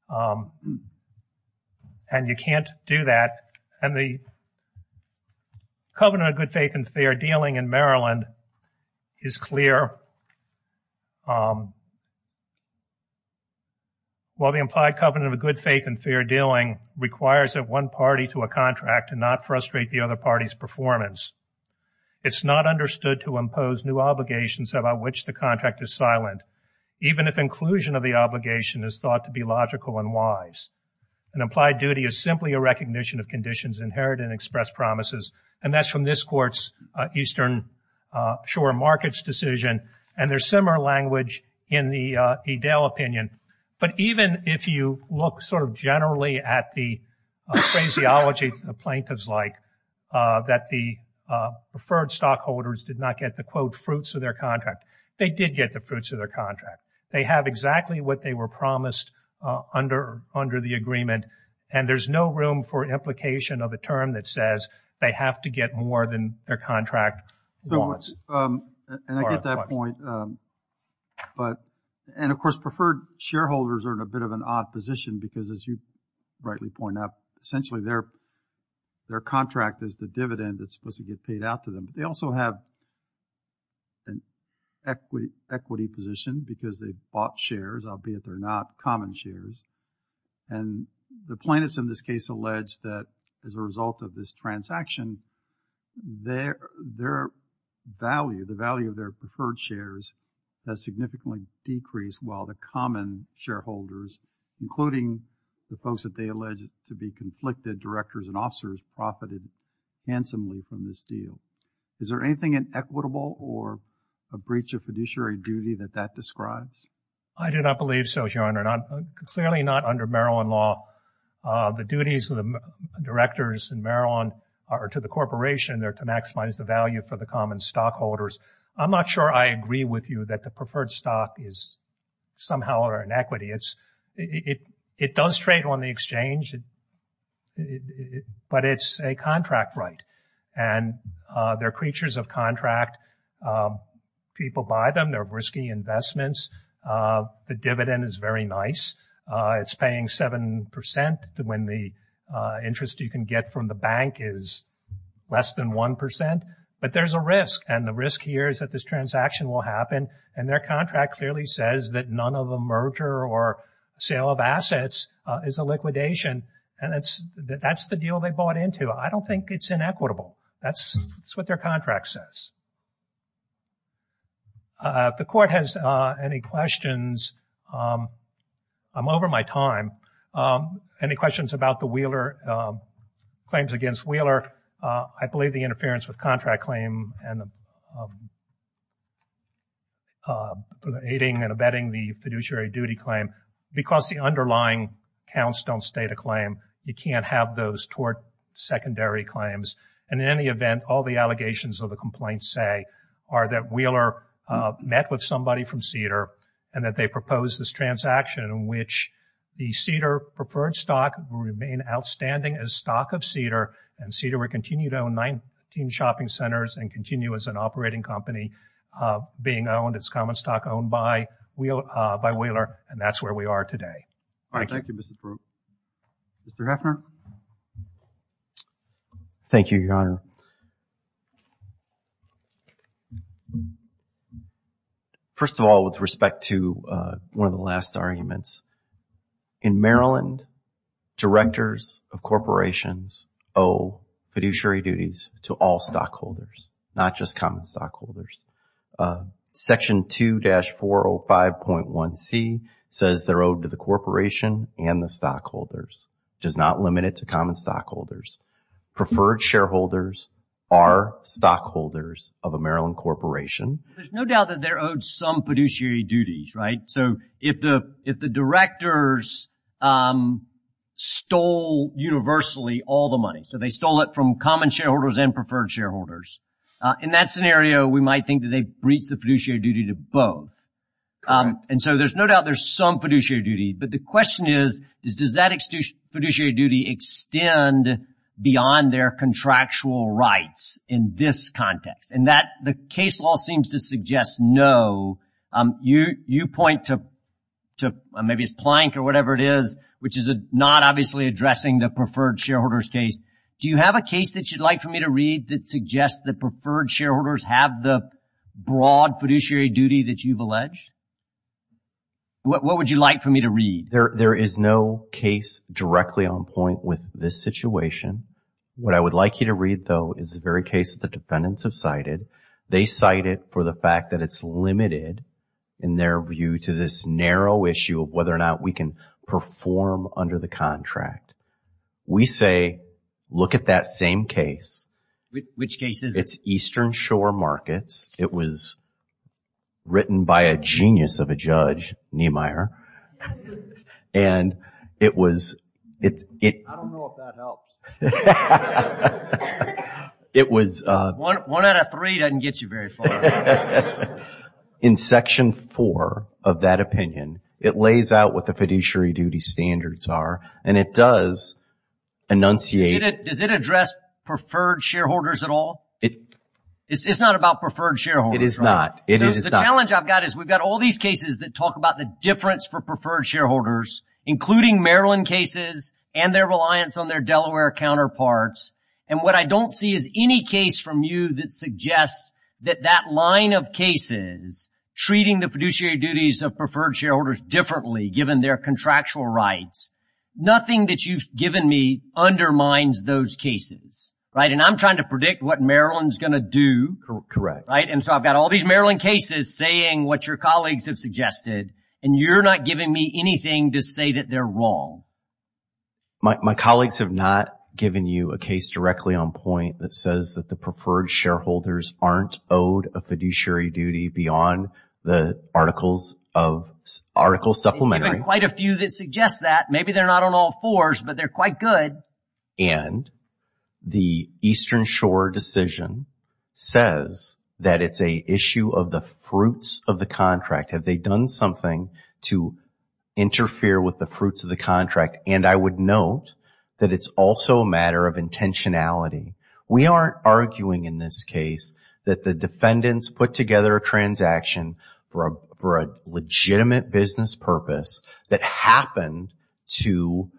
and you can't do that. And the covenant of good faith and fair dealing in Maryland is clear. While the implied covenant of good faith and fair dealing requires that one party to a contract and not frustrate the other party's performance, it's not understood to impose new obligations about which the contract is silent, even if inclusion of the obligation is thought to be logical and wise. An implied duty is simply a recognition of conditions inherent in express promises, and that's from this court's eastern shore markets decision, and there's similar language in the Edel opinion. But even if you look sort of generally at the phraseology the plaintiffs like, that the preferred stockholders did not get the, quote, fruits of their contract, they did get the fruits of their contract. They have exactly what they were promised under the agreement, and there's no room for implication of a term that says they have to get more than their contract wants. And I get that point. And, of course, preferred shareholders are in a bit of an odd position because, as you rightly point out, essentially their contract is the dividend that's supposed to get paid out to them. They also have an equity position because they bought shares, albeit they're not common shares, and the plaintiffs in this case allege that as a result of this transaction, their value, the value of their preferred shares has significantly decreased, while the common shareholders, including the folks that they allege to be conflicted directors and officers, have profited handsomely from this deal. Is there anything inequitable or a breach of fiduciary duty that that describes? I do not believe so, Your Honor. Clearly not under Maryland law. The duties of the directors in Maryland are to the corporation. They're to maximize the value for the common stockholders. I'm not sure I agree with you that the preferred stock is somehow or inequity. It does trade on the exchange, but it's a contract right, and they're creatures of contract. People buy them. They're risky investments. The dividend is very nice. It's paying 7% when the interest you can get from the bank is less than 1%, but there's a risk, and the risk here is that this transaction will happen, and their contract clearly says that none of a merger or sale of assets is a liquidation, and that's the deal they bought into. I don't think it's inequitable. That's what their contract says. If the court has any questions, I'm over my time. Any questions about the Wheeler claims against Wheeler? I believe the interference with contract claim and aiding and abetting the You can't have those tort secondary claims, and in any event, all the allegations of the complaints say are that Wheeler met with somebody from Cedar and that they proposed this transaction in which the Cedar preferred stock will remain outstanding as stock of Cedar, and Cedar will continue to own 19 shopping centers and continue as an operating company being owned. It's common stock owned by Wheeler, and that's where we are today. All right. Thank you, Mr. Proop. Mr. Heffner? Thank you, Your Honor. First of all, with respect to one of the last arguments, in Maryland directors of corporations owe fiduciary duties to all stockholders, not just common stockholders. Section 2-405.1C says they're owed to the corporation and the stockholders, which is not limited to common stockholders. Preferred shareholders are stockholders of a Maryland corporation. There's no doubt that they're owed some fiduciary duties, right? So if the directors stole universally all the money, so they stole it from common shareholders and preferred shareholders, in that scenario we might think that they breached the fiduciary duty to both. And so there's no doubt there's some fiduciary duty, but the question is does that fiduciary duty extend beyond their contractual rights in this context? And the case law seems to suggest no. You point to maybe it's Plank or whatever it is, which is not obviously addressing the preferred shareholders case. Do you have a case that you'd like for me to read that suggests that preferred shareholders have the broad fiduciary duty that you've alleged? What would you like for me to read? There is no case directly on point with this situation. What I would like you to read, though, is the very case that the defendants have cited. They cite it for the fact that it's limited, in their view, to this narrow issue of whether or not we can perform under the contract. We say look at that same case. Which case is it? It's Eastern Shore Markets. It was written by a genius of a judge, Niemeyer. And it was – I don't know if that helps. It was – One out of three doesn't get you very far. In Section 4 of that opinion, it lays out what the fiduciary duty standards are, and it does enunciate – Does it address preferred shareholders at all? It's not about preferred shareholders, right? It is not. The challenge I've got is we've got all these cases that talk about the difference for preferred shareholders, including Maryland cases and their reliance on their Delaware counterparts. And what I don't see is any case from you that suggests that that line of cases, treating the fiduciary duties of preferred shareholders differently, given their contractual rights, nothing that you've given me undermines those cases, right? And I'm trying to predict what Maryland's going to do. Correct. Right? And so I've got all these Maryland cases saying what your colleagues have suggested, and you're not giving me anything to say that they're wrong. My colleagues have not given you a case directly on point that says that the preferred shareholders aren't owed a fiduciary duty beyond the article supplementary. There are quite a few that suggest that. Maybe they're not on all fours, but they're quite good. And the Eastern Shore decision says that it's an issue of the fruits of the contract. Have they done something to interfere with the fruits of the contract? And I would note that it's also a matter of intentionality. We aren't arguing in this case that the defendants put together a transaction for a legitimate business purpose that happened to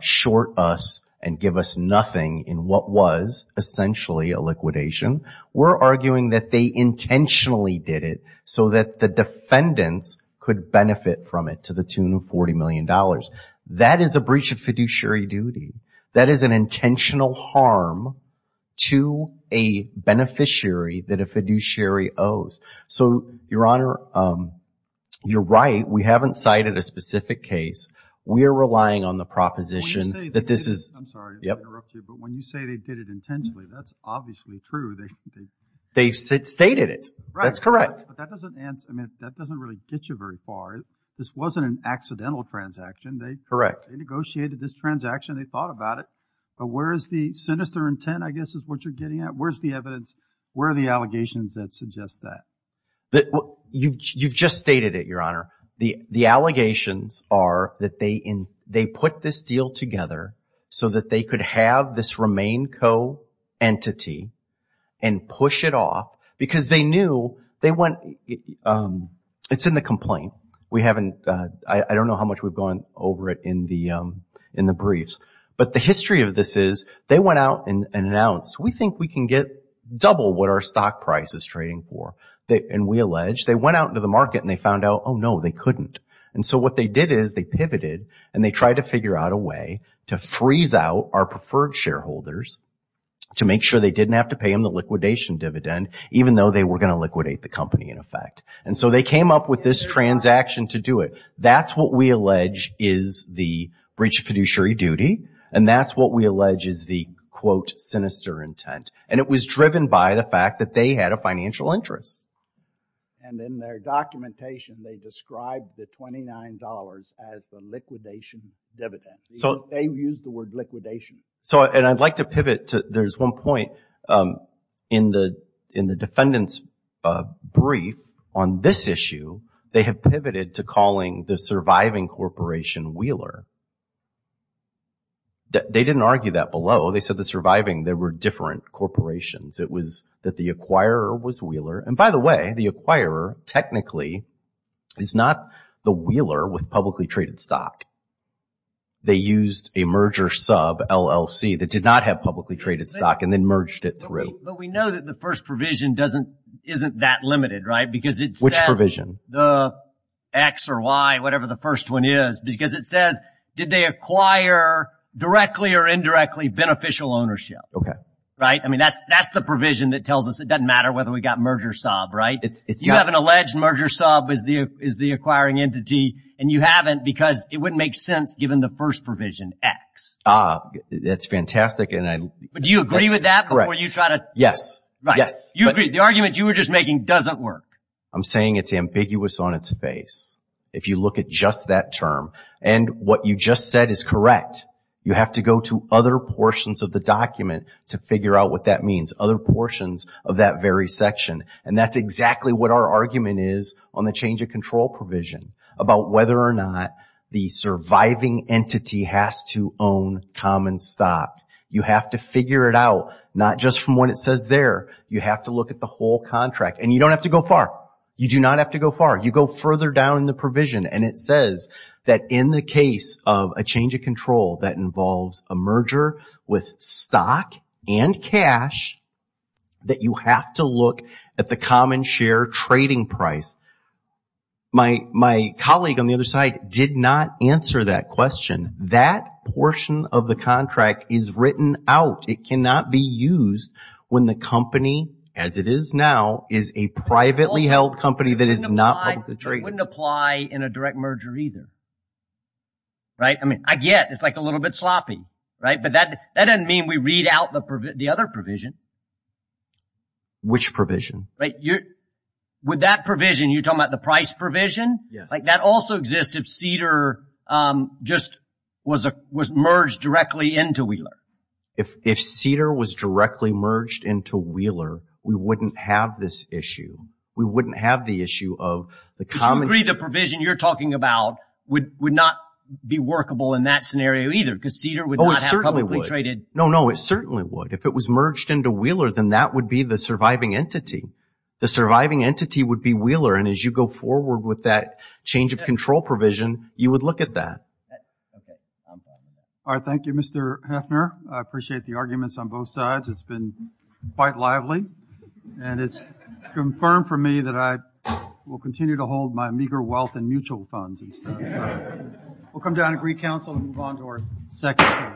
short us and give us nothing in what was essentially a liquidation. We're arguing that they intentionally did it so that the defendants could benefit from it to the tune of $40 million. That is a breach of fiduciary duty. That is an intentional harm to a beneficiary that a fiduciary owes. So, Your Honor, you're right. We haven't cited a specific case. We are relying on the proposition that this is – I'm sorry to interrupt you, but when you say they did it intentionally, that's obviously true. They stated it. That's correct. But that doesn't really get you very far. This wasn't an accidental transaction. Correct. They negotiated this transaction. They thought about it. But where is the sinister intent, I guess, is what you're getting at? Where's the evidence? Where are the allegations that suggest that? You've just stated it, Your Honor. The allegations are that they put this deal together so that they could have this remain co-entity and push it off because they knew they went – it's in the complaint. I don't know how much we've gone over it in the briefs. But the history of this is they went out and announced, we think we can get double what our stock price is trading for. And we allege they went out into the market and they found out, oh, no, they couldn't. And so what they did is they pivoted and they tried to figure out a way to freeze out our preferred shareholders to make sure they didn't have to pay them the liquidation dividend, even though they were going to liquidate the company in effect. And so they came up with this transaction to do it. That's what we allege is the breach of fiduciary duty. And that's what we allege is the, quote, sinister intent. And it was driven by the fact that they had a financial interest. And in their documentation, they described the $29 as the liquidation dividend. They used the word liquidation. And I'd like to pivot to there's one point in the defendant's brief on this issue. They have pivoted to calling the surviving corporation Wheeler. They didn't argue that below. They said the surviving, they were different corporations. It was that the acquirer was Wheeler. And by the way, the acquirer technically is not the Wheeler with publicly traded stock. They used a merger sub, LLC, that did not have publicly traded stock, and then merged it through. But we know that the first provision isn't that limited, right? Which provision? The X or Y, whatever the first one is, because it says did they acquire directly or indirectly beneficial ownership? Okay. Right? I mean, that's the provision that tells us it doesn't matter whether we got merger sub, right? You have an alleged merger sub as the acquiring entity, and you haven't because it wouldn't make sense given the first provision, X. Ah, that's fantastic. But do you agree with that before you try to? Yes. Right. You agree. The argument you were just making doesn't work. I'm saying it's ambiguous on its face if you look at just that term. And what you just said is correct. You have to go to other portions of the document to figure out what that means, other portions of that very section. And that's exactly what our argument is on the change of control provision, about whether or not the surviving entity has to own common stock. You have to figure it out, not just from what it says there. You have to look at the whole contract. And you don't have to go far. You do not have to go far. You go further down in the provision, and it says that in the case of a change of control that involves a merger with stock and cash, that you have to look at the common share trading price. My colleague on the other side did not answer that question. That portion of the contract is written out. It cannot be used when the company, as it is now, is a privately held company that is not publicly traded. It wouldn't apply in a direct merger either. Right? I mean, I get it's like a little bit sloppy. Right? But that doesn't mean we read out the other provision. Which provision? Right? With that provision, you're talking about the price provision? Yes. Like that also exists if Cedar just was merged directly into Wheeler. If Cedar was directly merged into Wheeler, we wouldn't have this issue. We wouldn't have the issue of the common share. Do you agree the provision you're talking about would not be workable in that scenario either because Cedar would not have publicly traded? Oh, it certainly would. No, no, it certainly would. If it was merged into Wheeler, then that would be the surviving entity. The surviving entity would be Wheeler, and as you go forward with that change of control provision, you would look at that. All right. Thank you, Mr. Heffner. I appreciate the arguments on both sides. It's been quite lively, and it's confirmed for me that I will continue to hold my meager wealth in mutual funds. We'll come down to Greek Council and move on to our second case.